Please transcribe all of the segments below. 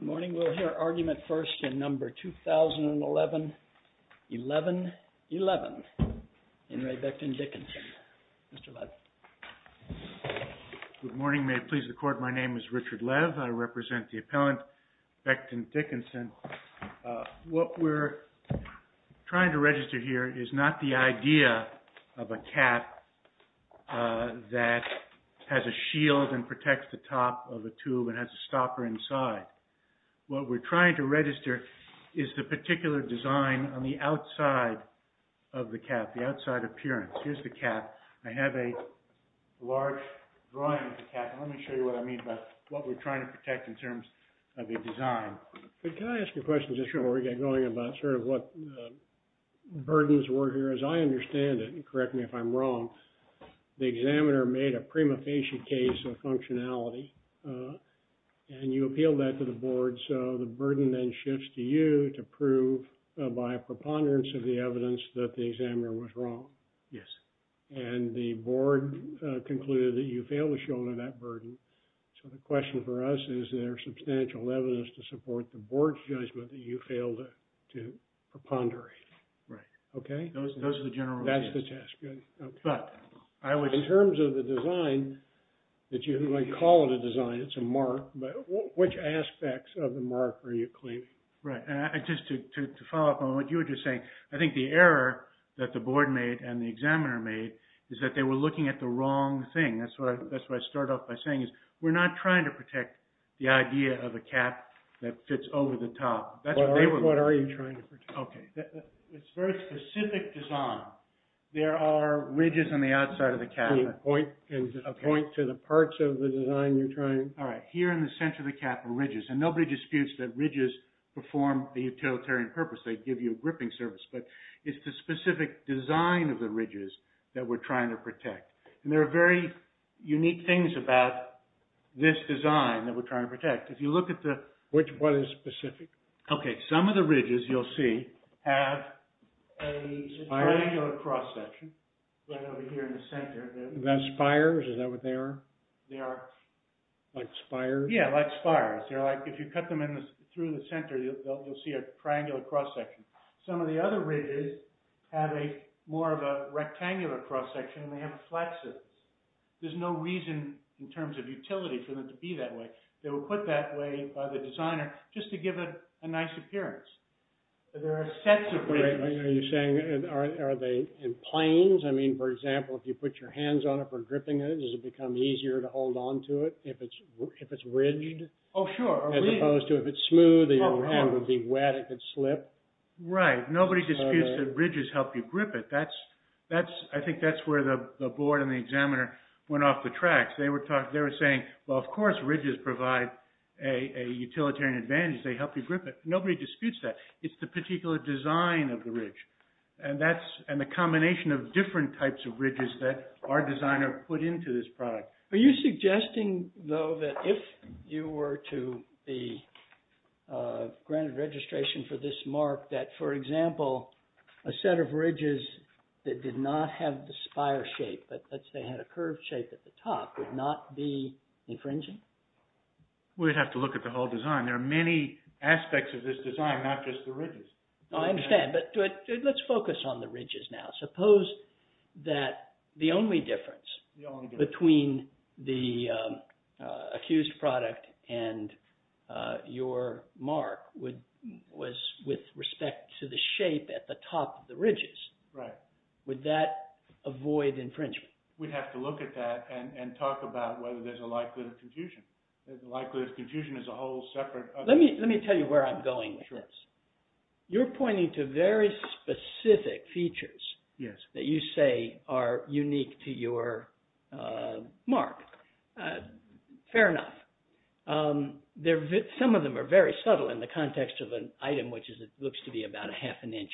Good morning. May it please the court, my name is Richard Lev. I represent the appellant Becton Dickinson. What we're trying to register here is not the idea of a cap that has a shield and protects the top of the tube and has a stopper inside. What we're trying to register is the particular design on the outside of the cap, the outside appearance. Here's the cap. I have a large drawing of the cap. Let me show you what I mean by what we're trying to protect in terms of the design. Can I ask a question just before we get going about sort of what the burdens were here? Because I understand it and correct me if I'm wrong, the examiner made a prima facie case of functionality and you appealed that to the board. So the burden then shifts to you to prove by a preponderance of the evidence that the examiner was wrong. And the board concluded that you failed to shoulder that burden. So the question for us is there substantial evidence to support the board's judgment that you failed to preponderate. Right. Okay. Those are the general. That's the test. Good. But I would. In terms of the design that you might call it a design, it's a mark. But which aspects of the mark are you claiming? Right. And just to follow up on what you were just saying, I think the error that the board made and the examiner made is that they were looking at the wrong thing. That's why I start off by saying is we're not trying to protect the idea of a ridges on the top. What are you trying to protect? Okay. It's very specific design. There are ridges on the outside of the cap. Can you point to the parts of the design you're trying? All right. Here in the center of the cap are ridges. And nobody disputes that ridges perform a utilitarian purpose. They give you a gripping service. But it's the specific design of the ridges that we're trying to protect. And there are very unique things about this design that we're trying to protect. If you look at the... What is specific? Okay. Some of the ridges you'll see have a triangular cross-section right over here in the center. Are those spires? Is that what they are? They are. Like spires? Yeah, like spires. They're like if you cut them through the center, you'll see a triangular cross-section. Some of the other ridges have more of a rectangular cross-section and they have a flat surface. There's no reason in terms of utility for them to be that way. They were put that way by the designer just to give it a nice appearance. There are sets of ridges. Are they in planes? I mean, for example, if you put your hands on it for gripping it, does it become easier to hold on to it if it's ridged? Oh, sure. As opposed to if it's smooth and your hand would be wet, it could slip. Right. Nobody disputes that ridges help you grip it. I think that's where the design examiner went off the tracks. They were saying, well, of course, ridges provide a utilitarian advantage. They help you grip it. Nobody disputes that. It's the particular design of the ridge and the combination of different types of ridges that our designer put into this product. Are you suggesting, though, that if you were to be granted registration for this mark, that, for example, a set of ridges that did not have the spire shape, but let's say had a curved shape at the top, would not be infringing? We'd have to look at the whole design. There are many aspects of this design, not just the ridges. I understand. Let's focus on the ridges now. Suppose that the only difference between the accused product and your mark was with respect to the shape at the top of the ridges. Right. Would that avoid infringement? We'd have to look at that and talk about whether there's a likelihood of confusion. There's a likelihood of confusion as a whole separate... Let me tell you where I'm going with this. Sure. You're pointing to very specific features that you say are trivial. Some of them are very subtle in the context of an item which looks to be about a half an inch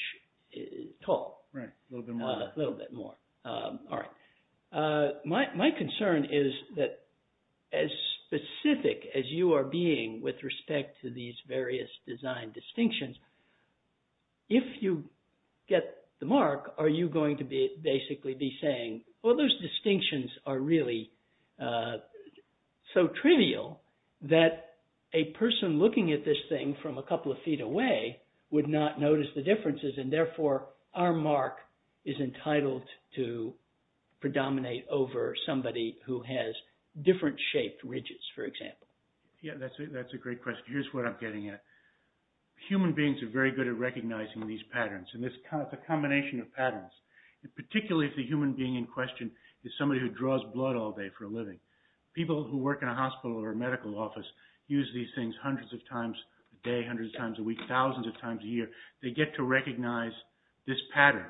tall. Right. A little bit more. A little bit more. All right. My concern is that as specific as you are being with respect to these various design distinctions, if you get the mark, are you going to basically be saying, well, those distinctions are really so trivial that a person looking at this thing from a couple of feet away would not notice the differences, and therefore our mark is entitled to predominate over somebody who has different shaped ridges, for example. Yeah, that's a great question. Here's what I'm getting at. Human beings are very good at recognizing these patterns. It's a combination of patterns. Particularly if the human being in question is somebody who draws blood all day for a living. People who work in a hospital or a medical office use these things hundreds of times a day, hundreds of times a week, thousands of times a year. They get to recognize this pattern.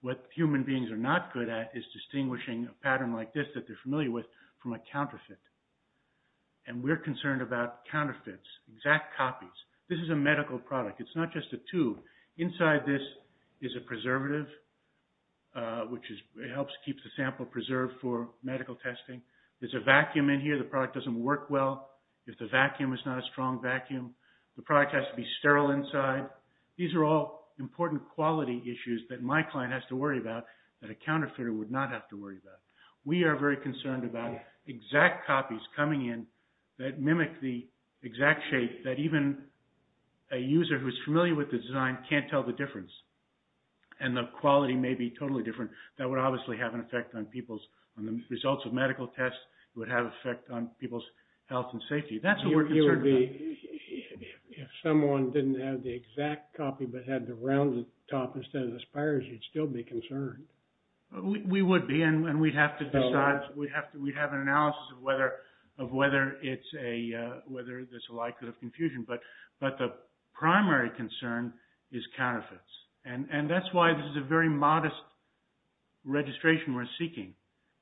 What human beings are not good at is distinguishing a pattern like this that they're familiar with from a counterfeit. We're concerned about counterfeits, exact copies. This is a medical product. It's not just a tube. Inside this is a preservative, which helps keep the sample preserved for medical testing. There's a vacuum in here. The product doesn't work well if the vacuum is not a strong vacuum. The product has to be sterile inside. These are all important quality issues that my client has to worry about that a counterfeiter would not have to worry about. We are very concerned about exact copies coming in that mimic the exact shape that even a user who's familiar with the design can't tell the difference. The quality may be totally different. That would obviously have an effect on the results of medical tests. It would have an effect on people's health and safety. That's what we're concerned about. If someone didn't have the exact copy but had the rounded top instead of the spires, you'd still be concerned. We would be. We'd have an analysis of whether there's a likelihood of confusion. The primary concern is counterfeits. That's why this is a very modest registration we're seeking.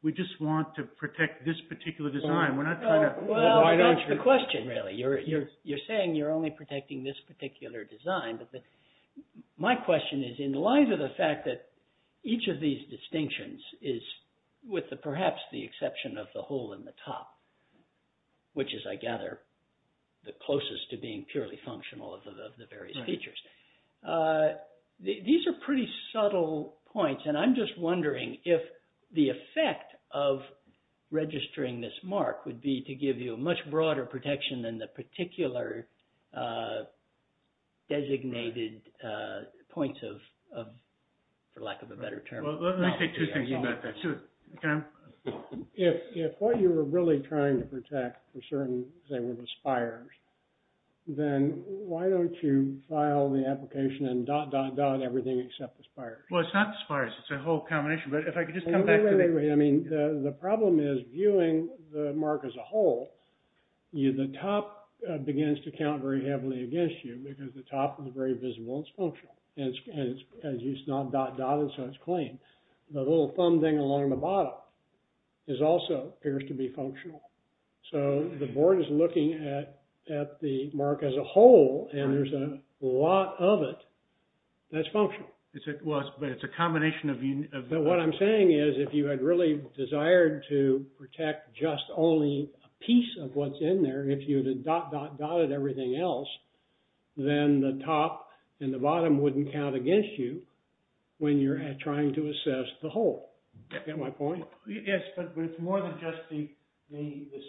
We just want to protect this particular design. We're not trying to... Why don't you... That's the question, really. You're saying you're only protecting this particular design. My question is in light of the fact that each of these distinctions is, with perhaps the exception of the hole in the top, which is, I gather, the closest to being purely functional of the various features. These are pretty subtle points. I'm just wondering if the effect of registering this mark would be to give you a much broader protection than the particular designated points of, for lack of a better term, quality. Let me say two things about that, too. Can I? If what you were really trying to protect were certain, say, were the spires, then why don't you file the application and dot, dot, dot everything except the spires? Well, it's not the spires. It's a whole combination. But if I could just come back to the... Wait, wait, wait. I mean, the problem is viewing the mark as a whole, the top begins to count very heavily against you because the top is very visible. It's functional. And it's not dot, dot, and so it's clean. The little thumb thing along the bottom is also, appears to be functional. So the board is looking at the mark as a whole, and there's a lot of it that's functional. Well, it's a combination of... But what I'm saying is, if you had really desired to protect just only a piece of what's in there, if you had dot, dot, dotted everything else, then the top and the bottom wouldn't count against you when you're trying to assess the whole. Get my point? Yes, but it's more than just the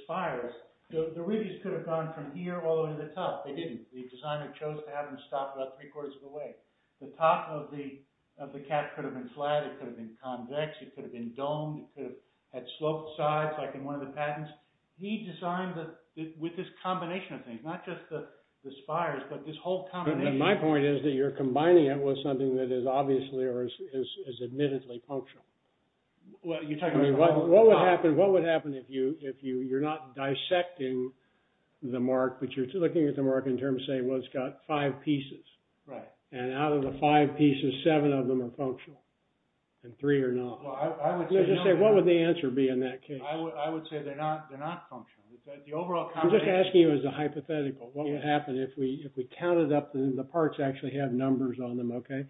spires. The rubies could have gone from here all the way to the top. They didn't. The designer chose to have them stop about three-quarters of the way. The top of the cap could have been flat, it could have been convex, it could have been domed, it could have had sloped sides like in one of the patents. He designed it with this combination of things, not just the spires, but this whole combination. My point is that you're combining it with something that is obviously or is admittedly functional. Well, you're talking about... I mean, what would happen if you're not dissecting the mark, but you're looking at the mark in terms of saying, well, it's got five pieces. Right. And out of the five pieces, seven of them are functional, and three are not. Well, I would say... No, just say, what would the answer be in that case? I would say they're not functional. The overall combination... I'm just asking you as a hypothetical, what would happen if we counted up... The parts actually have numbers on them, okay?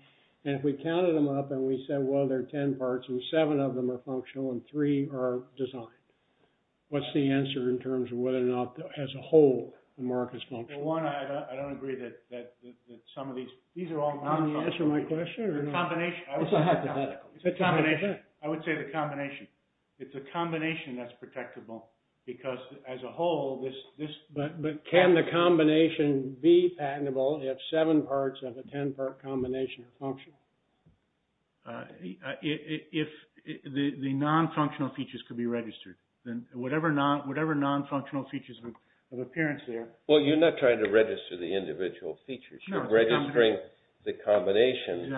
And if we counted them up and we said, well, there are ten parts and seven of them are functional and three are designed, what's the answer in terms of whether or not, as a whole, the mark is functional? One, I don't agree that some of these... These are all non-functional. Is that the answer to my question, or no? It's a combination. It's a hypothetical. It's a combination. It's a combination. I would say the combination. It's a combination that's protectable because, as a whole, this... But can the combination be patentable if seven parts of a ten-part combination are functional? If the non-functional features could be registered, then whatever non-functional features of appearance there... Well, you're not trying to register the individual features. You're registering the combination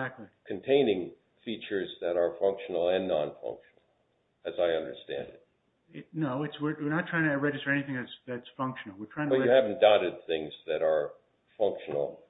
containing features that are functional and non-functional. As I understand it. No. We're not trying to register anything that's functional. We're trying to... But you haven't dotted things that are functional.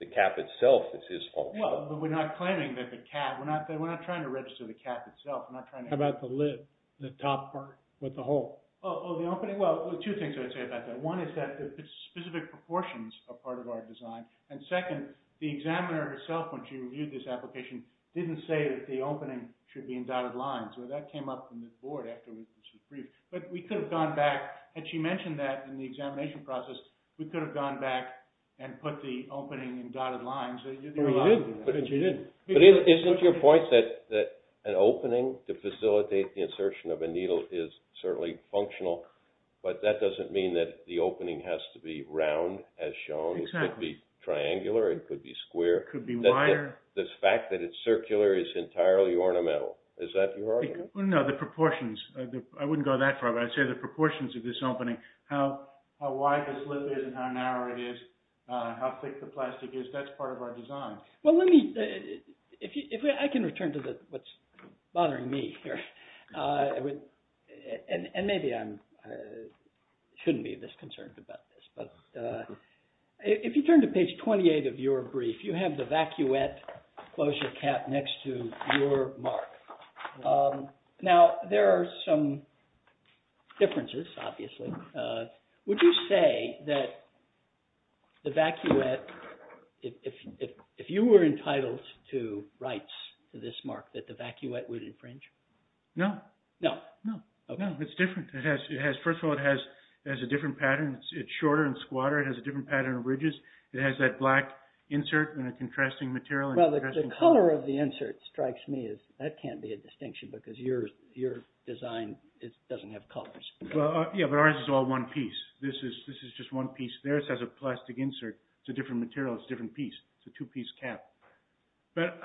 The cap itself is functional. Well, but we're not claiming that the cap... We're not trying to register the cap itself. We're not trying to... How about the lid? The top part with the hole? Oh, the opening? Well, two things I would say about that. One is that the specific proportions are part of our design. And second, the examiner herself, when she reviewed this application, didn't say that the opening should be in dotted lines. Well, that came up in the board after she briefed. But we could have gone back, and she mentioned that in the examination process, we could have gone back and put the opening in dotted lines. Oh, you did. She did. But isn't your point that an opening to facilitate the insertion of a needle is certainly functional? But that doesn't mean that the opening has to be round as shown. Exactly. It could be triangular. It could be square. It could be wider. The fact that it's circular is entirely ornamental. Is that your argument? No, the proportions. I wouldn't go that far, but I'd say the proportions of this opening, how wide the slip is and how narrow it is, how thick the plastic is, that's part of our design. Well, let me... I can return to what's bothering me here. And maybe I shouldn't be this concerned about this. But if you turn to page 28 of your brief, you have the vacuette closure cap next to your mark. Now, there are some differences, obviously. Would you say that the vacuette, if you were entitled to rights to this mark, that the vacuette would infringe? No. No? No. No, it's different. First of all, it has a different pattern. It's shorter and squatter. It has a different pattern of ridges. It has that black insert and a contrasting material. Well, the color of the insert strikes me as... That can't be a distinction because your design doesn't have colors. Yeah, but ours is all one piece. This is just one piece. Theirs has a plastic insert. It's a different material. It's a different piece. It's a two-piece cap. But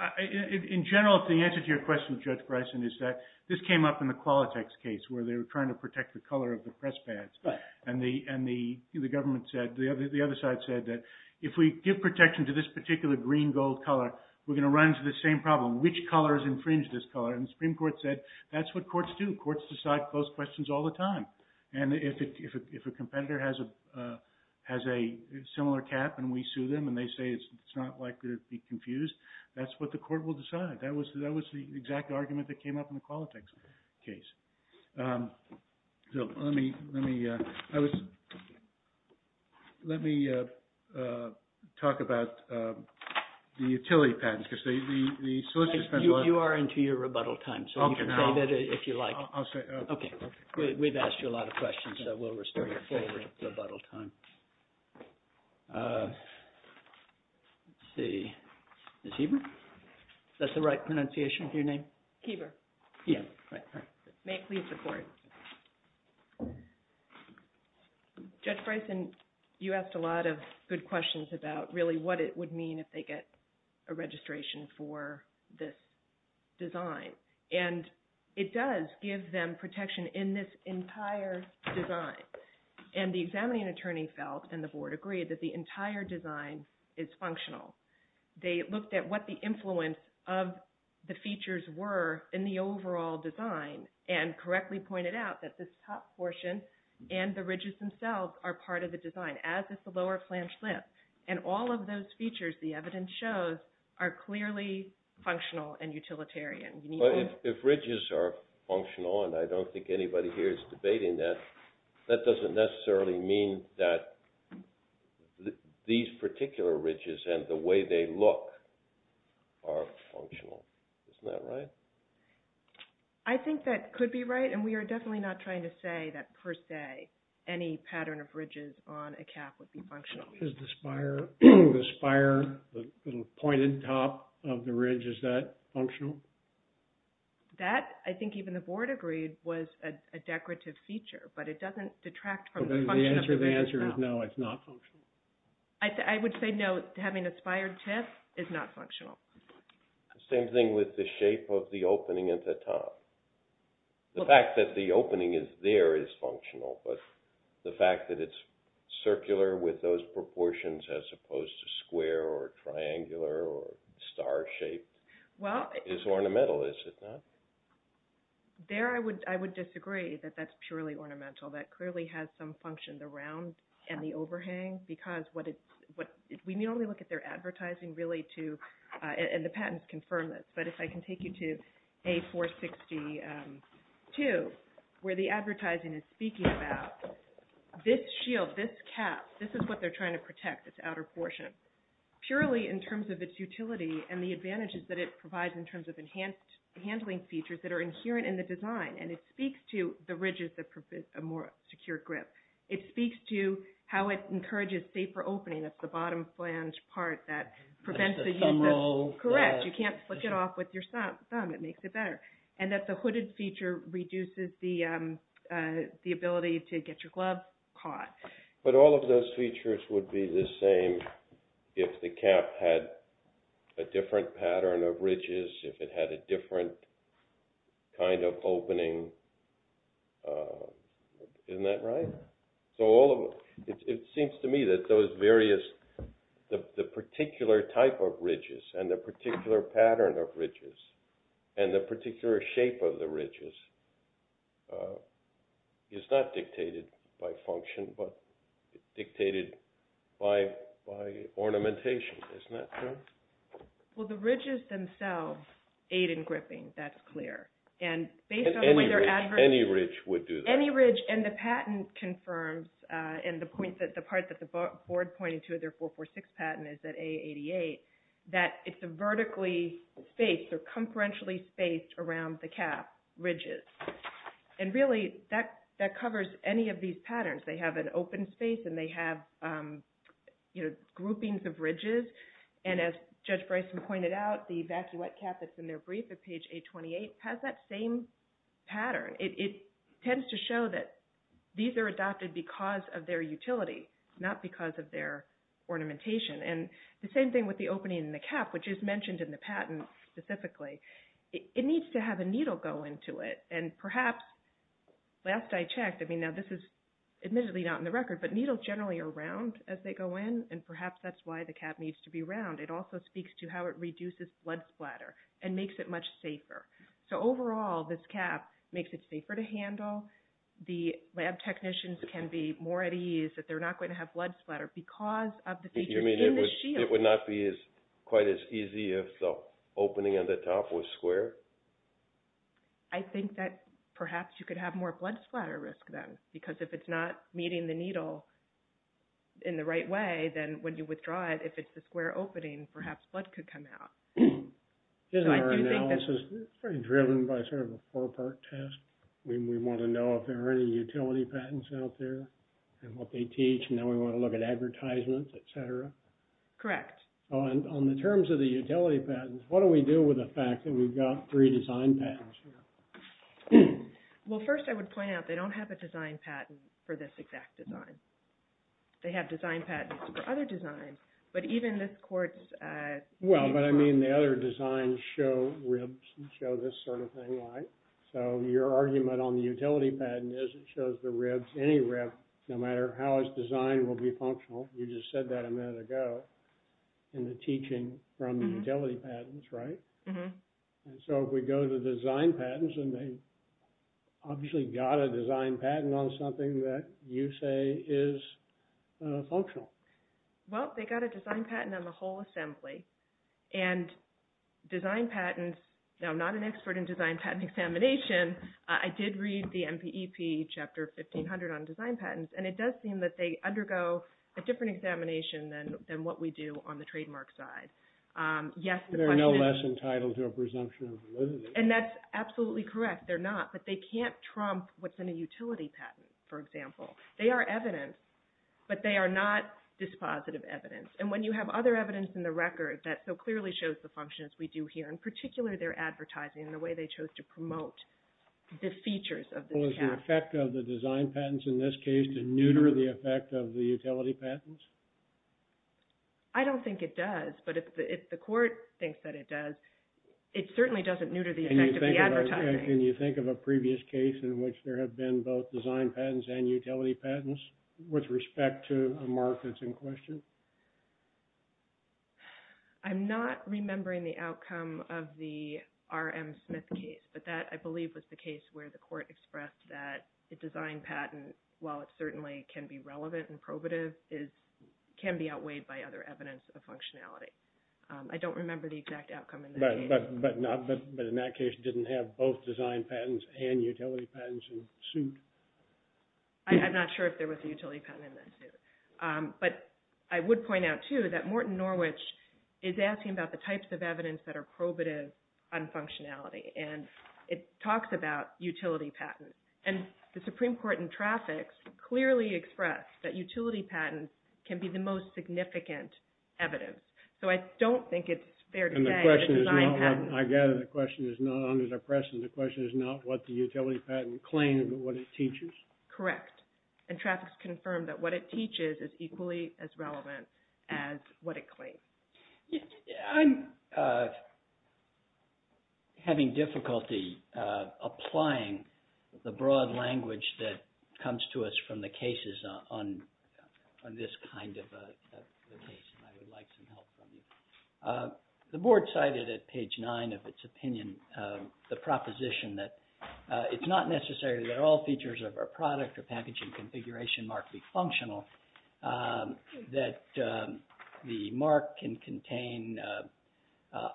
in general, the answer to your question, Judge Bryson, is that this came up in the Qualitex case where they were trying to protect the color of the press pads. Right. And the government said, the other side said, that if we give protection to this particular green-gold color, we're going to run into the same problem. Which colors infringe this color? And the Supreme Court said, that's what courts do. Courts decide closed questions all the time. And if a competitor has a similar cap and we sue them and they say it's not likely to be confused, that's what the court will decide. That was the exact argument that came up in the Qualitex case. So let me talk about the utility patents. You are into your rebuttal time. So you can say that if you like. Okay. We've asked you a lot of questions, so we'll restore your full rebuttal time. Let's see. Is Heber? Is that the right pronunciation of your name? Heber. Yeah. May I please report? Judge Bryson, you asked a lot of good questions about really what it would mean if they get a registration for this design. And it does give them protection in this entire design. And the examining attorney felt, and the board agreed, that the entire design is functional. They looked at what the influence of the features were in the overall design and correctly pointed out that this top portion and the ridges themselves are part of the design, as is the lower flange lip. And all of those features, the evidence shows, are clearly functional and utilitarian. If ridges are functional, and I don't think anybody here is debating that, that doesn't necessarily mean that these particular ridges and the way they look are functional. Isn't that right? I think that could be right. And we are definitely not trying to say that per se any pattern of ridges on a cap would be functional. Is the spire, the pointed top of the ridge, is that functional? That, I think even the board agreed, was a decorative feature. But it doesn't detract from the function of the ridges. The answer is no, it's not functional. I would say no, having a spired tip is not functional. Same thing with the shape of the opening at the top. The fact that the opening is there is functional, but the fact that it's circular with those proportions as opposed to square or triangular or star-shaped is ornamental, is it not? There I would disagree that that's purely ornamental. That clearly has some function, the round and the overhang, because we only look at their advertising and the patents confirm this. But if I can take you to A462, where the advertising is speaking about this shield, this cap, this is what they're trying to protect, this outer portion. Purely in terms of its utility and the advantages that it provides in terms of enhanced handling features that are inherent in the design. And it speaks to the ridges that provide a more secure grip. It speaks to how it encourages safer opening. That's the bottom flange part that prevents the use of... Correct, you can't flick it off with your thumb. It makes it better. And that the hooded feature reduces the ability to get your glove caught. But all of those features would be the same if the cap had a different pattern of ridges, if it had a different kind of opening. Isn't that right? So it seems to me that those various... the particular type of ridges and the particular pattern of ridges and the particular shape of the ridges is not dictated by function, but dictated by ornamentation. Isn't that true? Well, the ridges themselves aid in gripping. That's clear. Any ridge would do that. Any ridge, and the patent confirms, and the part that the board pointed to in their 446 patent is that A88, that it's a vertically spaced or conferentially spaced around the cap ridges. And really, that covers any of these patterns. They have an open space and they have groupings of ridges. And as Judge Bryson pointed out, the vacuette cap that's in their brief at page 828 has that same pattern. It tends to show that these are adopted because of their utility, not because of their ornamentation. And the same thing with the opening in the cap, which is mentioned in the patent specifically. It needs to have a needle go into it, and perhaps, last I checked, I mean, now this is admittedly not in the record, but needles generally are round as they go in, and perhaps that's why the cap needs to be round. It also speaks to how it reduces blood splatter and makes it much safer. So overall, this cap makes it safer to handle. The lab technicians can be more at ease that they're not going to have blood splatter because of the features in the shield. You mean it would not be quite as easy if the opening at the top was square? I think that perhaps you could have more blood splatter risk then because if it's not meeting the needle in the right way, then when you withdraw it, if it's the square opening, perhaps blood could come out. Isn't our analysis driven by sort of a four-part test? We want to know if there are any utility patents out there and what they teach, and then we want to look at advertisements, et cetera? Correct. On the terms of the utility patents, what do we do with the fact that we've got three design patents here? Well, first I would point out they don't have a design patent for this exact design. They have design patents for other designs, but even this court's... Well, but I mean the other designs show ribs and show this sort of thing, right? So your argument on the utility patent is it shows the ribs, any ribs, no matter how it's designed will be functional. You just said that a minute ago in the teaching from the utility patents, right? Mm-hmm. So if we go to design patents, and they obviously got a design patent on something that you say is functional. Well, they got a design patent on the whole assembly, and design patents... Now, I'm not an expert in design patent examination. I did read the MPEP Chapter 1500 on design patents, and it does seem that they undergo a different examination than what we do on the trademark side. Yes, the question is... They're no less entitled to a presumption of validity. And that's absolutely correct. They're not, but they can't trump what's in a utility patent, for example. They are evidence, but they are not dispositive evidence. And when you have other evidence in the record that so clearly shows the functions we do here, in particular their advertising and the way they chose to promote the features of the... Well, is the effect of the design patents in this case to neuter the effect of the utility patents? I don't think it does, but if the court thinks that it does, it certainly doesn't neuter the effect of the advertising. Can you think of a previous case in which there have been both design patents and utility patents with respect to a mark that's in question? I'm not remembering the outcome of the R.M. Smith case, but that, I believe, was the case where the court expressed that a design patent, while it certainly can be relevant and probative, can be outweighed by other evidence of functionality. I don't remember the exact outcome in that case. But in that case, you didn't have both design patents and utility patents in suit? I'm not sure if there was a utility patent in that suit. But I would point out, too, that Morton Norwich is asking about the types of evidence that are probative on functionality, and it talks about utility patents. And the Supreme Court in traffic clearly expressed that utility patents can be the most significant evidence. So I don't think it's fair to say that design patents... I gather the question is not under the press, and the question is not what the utility patent claims, but what it teaches? Correct. And traffic's confirmed that what it teaches is equally as relevant as what it claims. I'm having difficulty applying the broad language that comes to us from the cases on this kind of a case, and I would like some help from you. The board cited at page 9 of its opinion the proposition that it's not necessary that all features of our product or packaging configuration mark be functional, that the mark can contain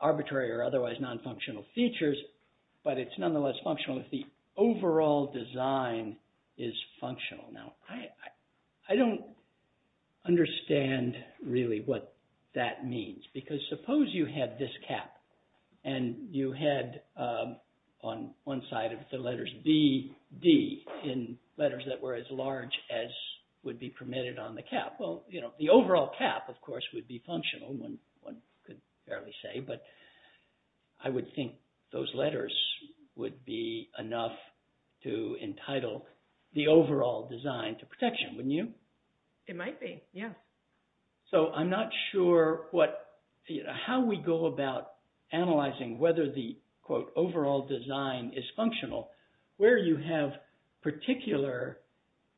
arbitrary or otherwise non-functional features, but it's nonetheless functional if the overall design is functional. Now, I don't understand really what that means, because suppose you had this cap, and you had on one side of the letters B, D, in letters that were as large as would be permitted on the cap. Well, the overall cap, of course, would be functional, one could barely say, but I would think those letters would be enough to entitle the overall design to protection, wouldn't you? It might be, yeah. So I'm not sure how we go about analyzing whether the, quote, overall design is functional, where you have particular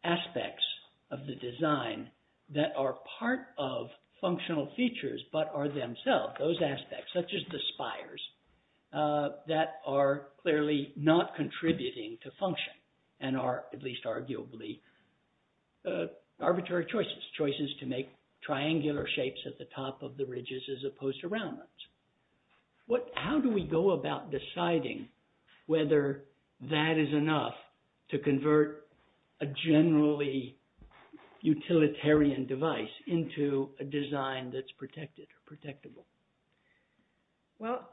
aspects of the design that are part of functional features, but are themselves, those aspects, such as the spires, that are clearly not contributing to function and are at least arguably arbitrary choices, choices to make triangular shapes at the top of the ridges as opposed to round ones. How do we go about deciding whether that is enough to convert a generally utilitarian device into a design that's protected or protectable? Well,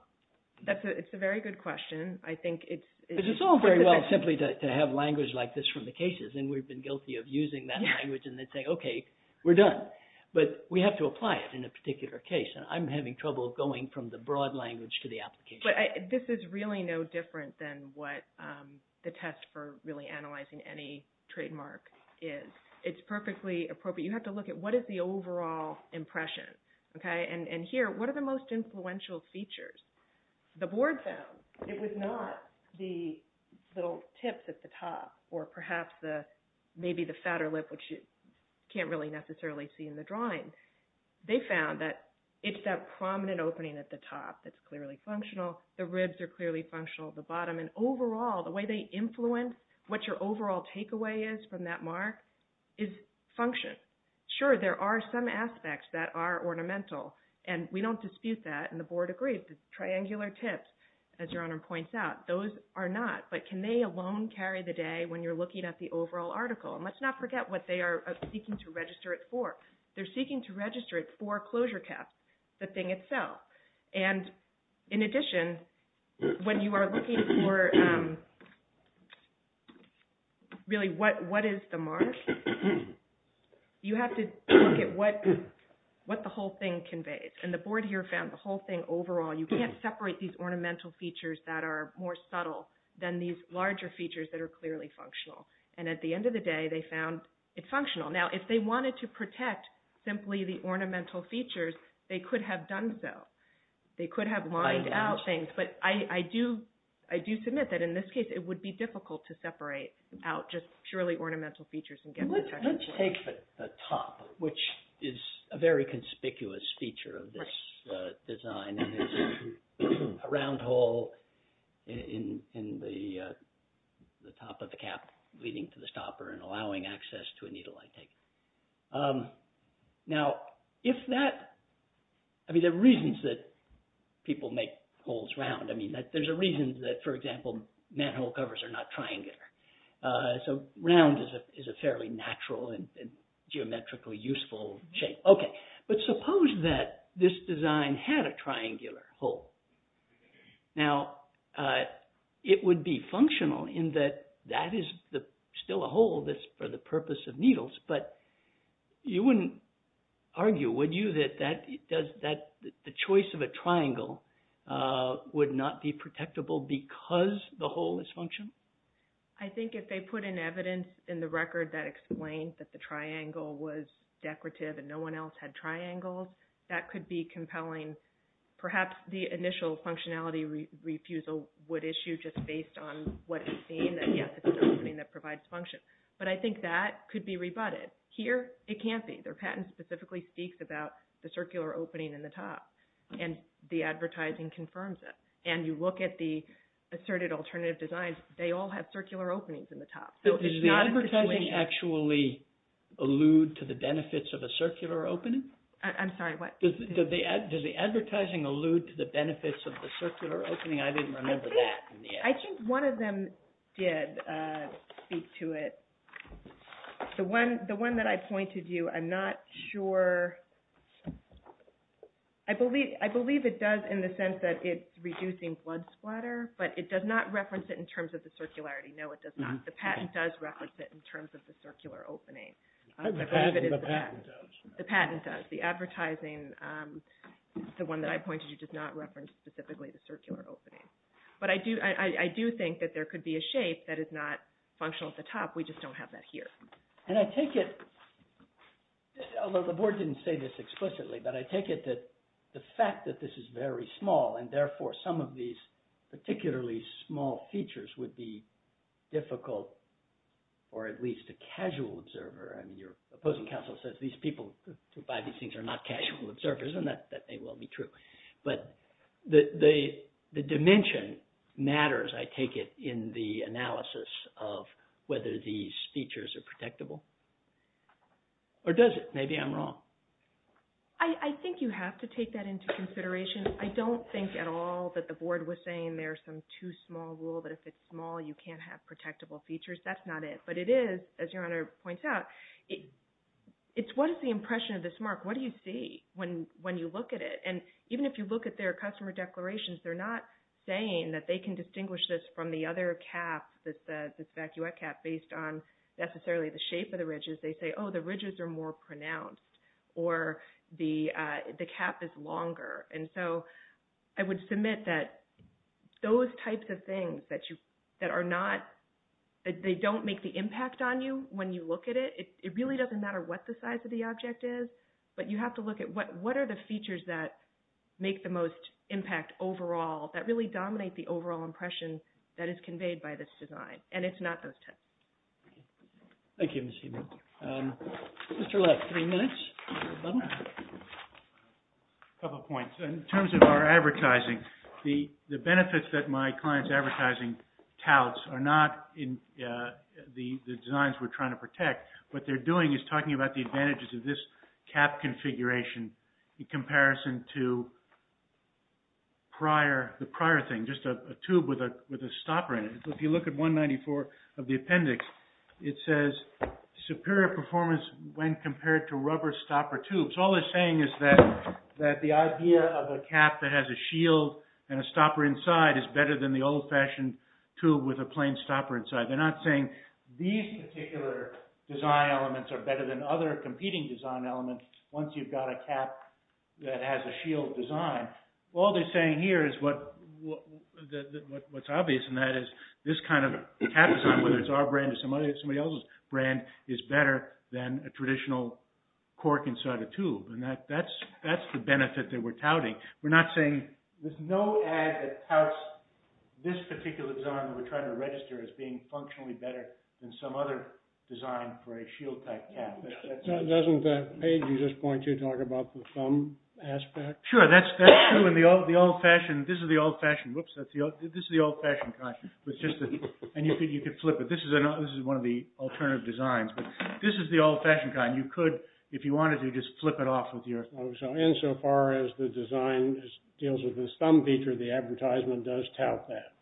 it's a very good question. I think it's... It's all very well simply to have language like this from the cases, and we've been guilty of using that language and they'd say, okay, we're done. But we have to apply it in a particular case, and I'm having trouble going from the broad language to the application. But this is really no different than what the test for really analyzing any trademark is. It's perfectly appropriate. You have to look at what is the overall impression, okay? And here, what are the most influential features? The board found it was not the little tips at the top or perhaps maybe the fatter lip, which you can't really necessarily see in the drawing. They found that it's that prominent opening at the top that's clearly functional. The ribs are clearly functional at the bottom. And overall, the way they influence what your overall takeaway is from that mark is function. Sure, there are some aspects that are ornamental, and we don't dispute that, and the board agreed. The triangular tips, as Your Honor points out, those are not. But can they alone carry the day when you're looking at the overall article? And let's not forget what they are seeking to register it for. They're seeking to register it for closure caps, the thing itself. And in addition, when you are looking for really what is the mark, you have to look at what the whole thing conveys. And the board here found the whole thing overall. You can't separate these ornamental features that are more subtle than these larger features that are clearly functional. And at the end of the day, they found it functional. Now, if they wanted to protect simply the ornamental features, they could have done so. They could have lined out things. But I do submit that in this case, it would be difficult to separate out just purely ornamental features and get protection. Let's take the top, which is a very conspicuous feature of this design. A round hole in the top of the cap leading to the stopper and allowing access to a needle I take. Now, if that... I mean, there are reasons that people make holes round. I mean, there's a reason that, for example, manhole covers are not triangular. So round is a fairly natural and geometrically useful shape. OK, but suppose that this design had a triangular hole. Now, it would be functional in that that is still a hole that's for the purpose of needles, but you wouldn't argue, would you, that the choice of a triangle would not be protectable because the hole is functional? I think if they put in evidence in the record that explained that the triangle was decorative and no one else had triangles, that could be compelling. Perhaps the initial functionality refusal would issue just based on what is seen, that, yes, it's an opening that provides function. But I think that could be rebutted. Here, it can't be. Their patent specifically speaks about the circular opening in the top, and the advertising confirms it. And you look at the asserted alternative designs, they all have circular openings in the top. So it's not a situation... Does the advertising allude to the benefits of a circular opening? I'm sorry, what? Does the advertising allude to the benefits of the circular opening? I didn't remember that. I think one of them did speak to it. The one that I pointed to, I'm not sure... I believe it does in the sense that it's reducing blood splatter, but it does not reference it in terms of the circularity. No, it does not. The patent does reference it in terms of the circular opening. The patent does. The patent does. The advertising, the one that I pointed to, does not reference specifically the circular opening. But I do think that there could be a shape that is not functional at the top. We just don't have that here. And I take it, although the board didn't say this explicitly, but I take it that the fact that this is very small, and therefore some of these particularly small features would be difficult for at least a casual observer. I mean, your opposing counsel says these people who buy these things are not casual observers, and that may well be true. But the dimension matters, I take it, in the analysis of whether these features are protectable. Or does it? Maybe I'm wrong. I think you have to take that into consideration. I don't think at all that the board was saying there's some too small rule, that if it's small, you can't have protectable features. That's not it. But it is, as Your Honor points out, it's what is the impression of this mark? What do you see when you look at it? And even if you look at their customer declarations, they're not saying that they can distinguish this from the other cap, this evacuate cap, based on necessarily the shape of the ridges. They say, oh, the ridges are more pronounced, or the cap is longer. And so I would submit that those types of things that they don't make the impact on you when you look at it, it really doesn't matter what the size of the object is, but you have to look at what are the features that make the most impact overall, that really dominate the overall impression that is conveyed by this design. And it's not those tests. Thank you, Ms. Heumann. Mr. Lutz, three minutes. A couple points. In terms of our advertising, the benefits that my client's advertising touts are not in the designs we're trying to protect. What they're doing is talking about the advantages of this cap configuration, in comparison to the prior thing, just a tube with a stopper in it. If you look at 194 of the appendix, it says superior performance when compared to rubber stopper tubes. All they're saying is that the idea of a cap that has a shield and a stopper inside is better than the old-fashioned tube with a plain stopper inside. They're not saying these particular design elements are better than other competing design elements once you've got a cap that has a shield design. All they're saying here is what's obvious in that is this kind of cap design, whether it's our brand or somebody else's brand, is better than a traditional cork inside a tube. That's the benefit that we're touting. We're not saying, there's no ad that touts this particular design that we're trying to register as being functionally better than some other design for a shield-type cap. Doesn't that page at this point talk about the thumb aspect? Sure, that's true. This is the old-fashioned kind. You could flip it. This is one of the alternative designs. This is the old-fashioned kind. You could, if you wanted to, just flip it off with your thumb. Insofar as the design deals with this thumb feature, the advertisement does tout that.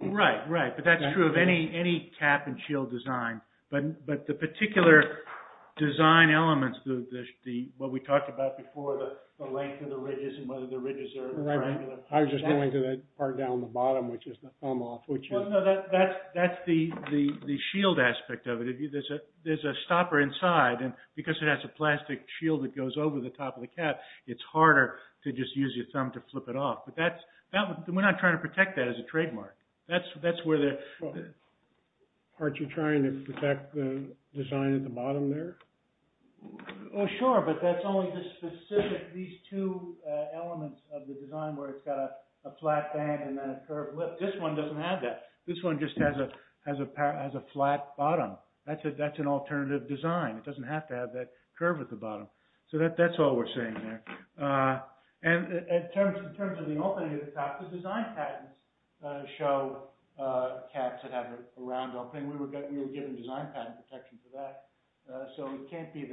Right, right. But that's true of any cap and shield design. But the particular design elements, what we talked about before, the length of the ridges and whether the ridges are triangular. I was just going to that part down the bottom, which is the thumb off. Well, no, that's the shield aspect of it. There's a stopper inside, and because it has a plastic shield that goes over the top of the cap, it's harder to just use your thumb to flip it off. But we're not trying to protect that as a trademark. That's where the... Aren't you trying to protect the design at the bottom there? Oh, sure, but that's only the specific, these two elements of the design where it's got a flat band and then a curved lip. This one doesn't have that. This one just has a flat bottom. That's an alternative design. It doesn't have to have that curve at the bottom. So that's all we're saying there. And in terms of the opening at the top, the design patents show caps that have a round opening. We were given design patent protection for that. So it can't be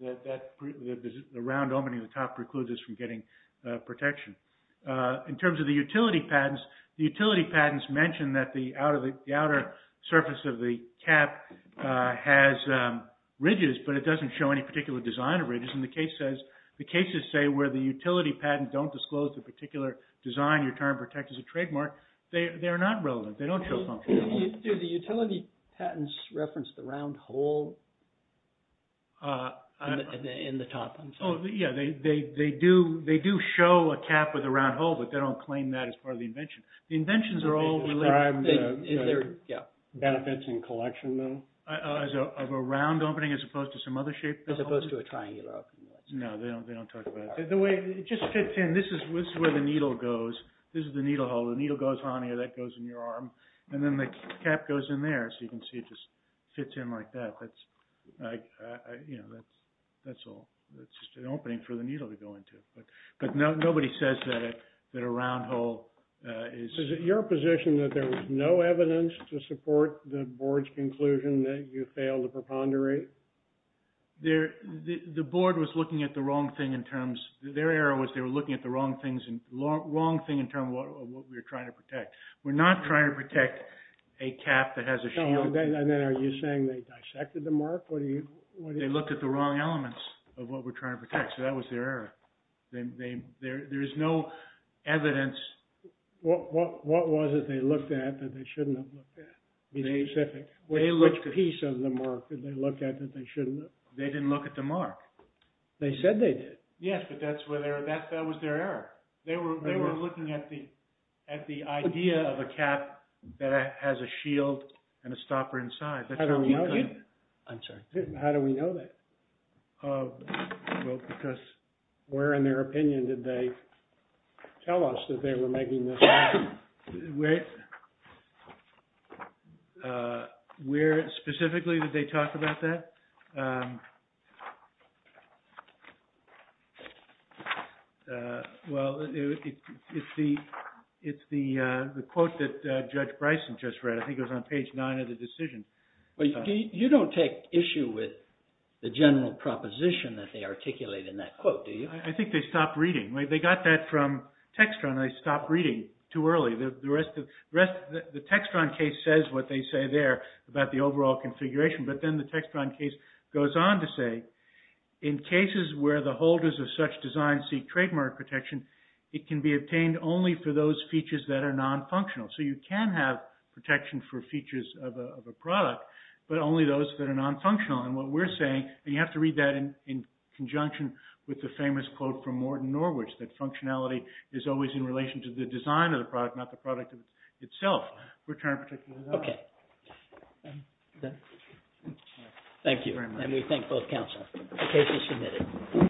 that the round opening at the top precludes us from getting protection. In terms of the utility patents, the utility patents mention that the outer surface of the cap has ridges, but it doesn't show any particular design of ridges. And the cases say where the utility patent don't disclose the particular design you're trying to protect as a trademark, they're not relevant. They don't show function. Do the utility patents reference the round hole in the top? Yeah, they do show a cap with a round hole, but they don't claim that as part of the invention. The inventions are all related. Benefits in collection, though? Of a round opening as opposed to some other shape? As opposed to a triangular opening. No, they don't talk about that. The way it just fits in, this is where the needle goes. This is the needle hole. The needle goes on here. That goes in your arm. And then the cap goes in there. So you can see it just fits in like that. That's all. That's just an opening for the needle to go into. But nobody says that a round hole is. Is it your position that there was no evidence to support the board's conclusion that you failed to preponderate? The board was looking at the wrong thing in terms. Their error was they were looking at the wrong thing in terms of what we were trying to protect. We're not trying to protect a cap that has a shield. And then are you saying they dissected the mark? They looked at the wrong elements of what we're trying to protect. So that was their error. There is no evidence. What was it they looked at that they shouldn't have looked at? Be specific. Which piece of the mark did they look at that they shouldn't have? They didn't look at the mark. They said they did. Yes, but that was their error. They were looking at the idea of a cap that has a shield and a stopper inside. I'm sorry. How do we know that? Well, because where in their opinion did they tell us that they were making this up? Where specifically did they talk about that? Well, it's the quote that Judge Bryson just read. I think it was on page nine of the decision. You don't take issue with the general proposition that they articulate in that quote, do you? I think they stopped reading. They got that from Textron. They stopped reading too early. The Textron case says what they say there about the overall configuration. But then the Textron case goes on to say, in cases where the holders of such designs seek trademark protection, it can be obtained only for those features that are non-functional. So you can have protection for features of a product, but only those that are non-functional. And what we're saying, and you have to read that in conjunction with the famous quote from Morton Norwich, that functionality is always in relation to the design of the product, not the product itself. We're trying to protect you as well. Thank you. And we thank both counsel. The case is submitted.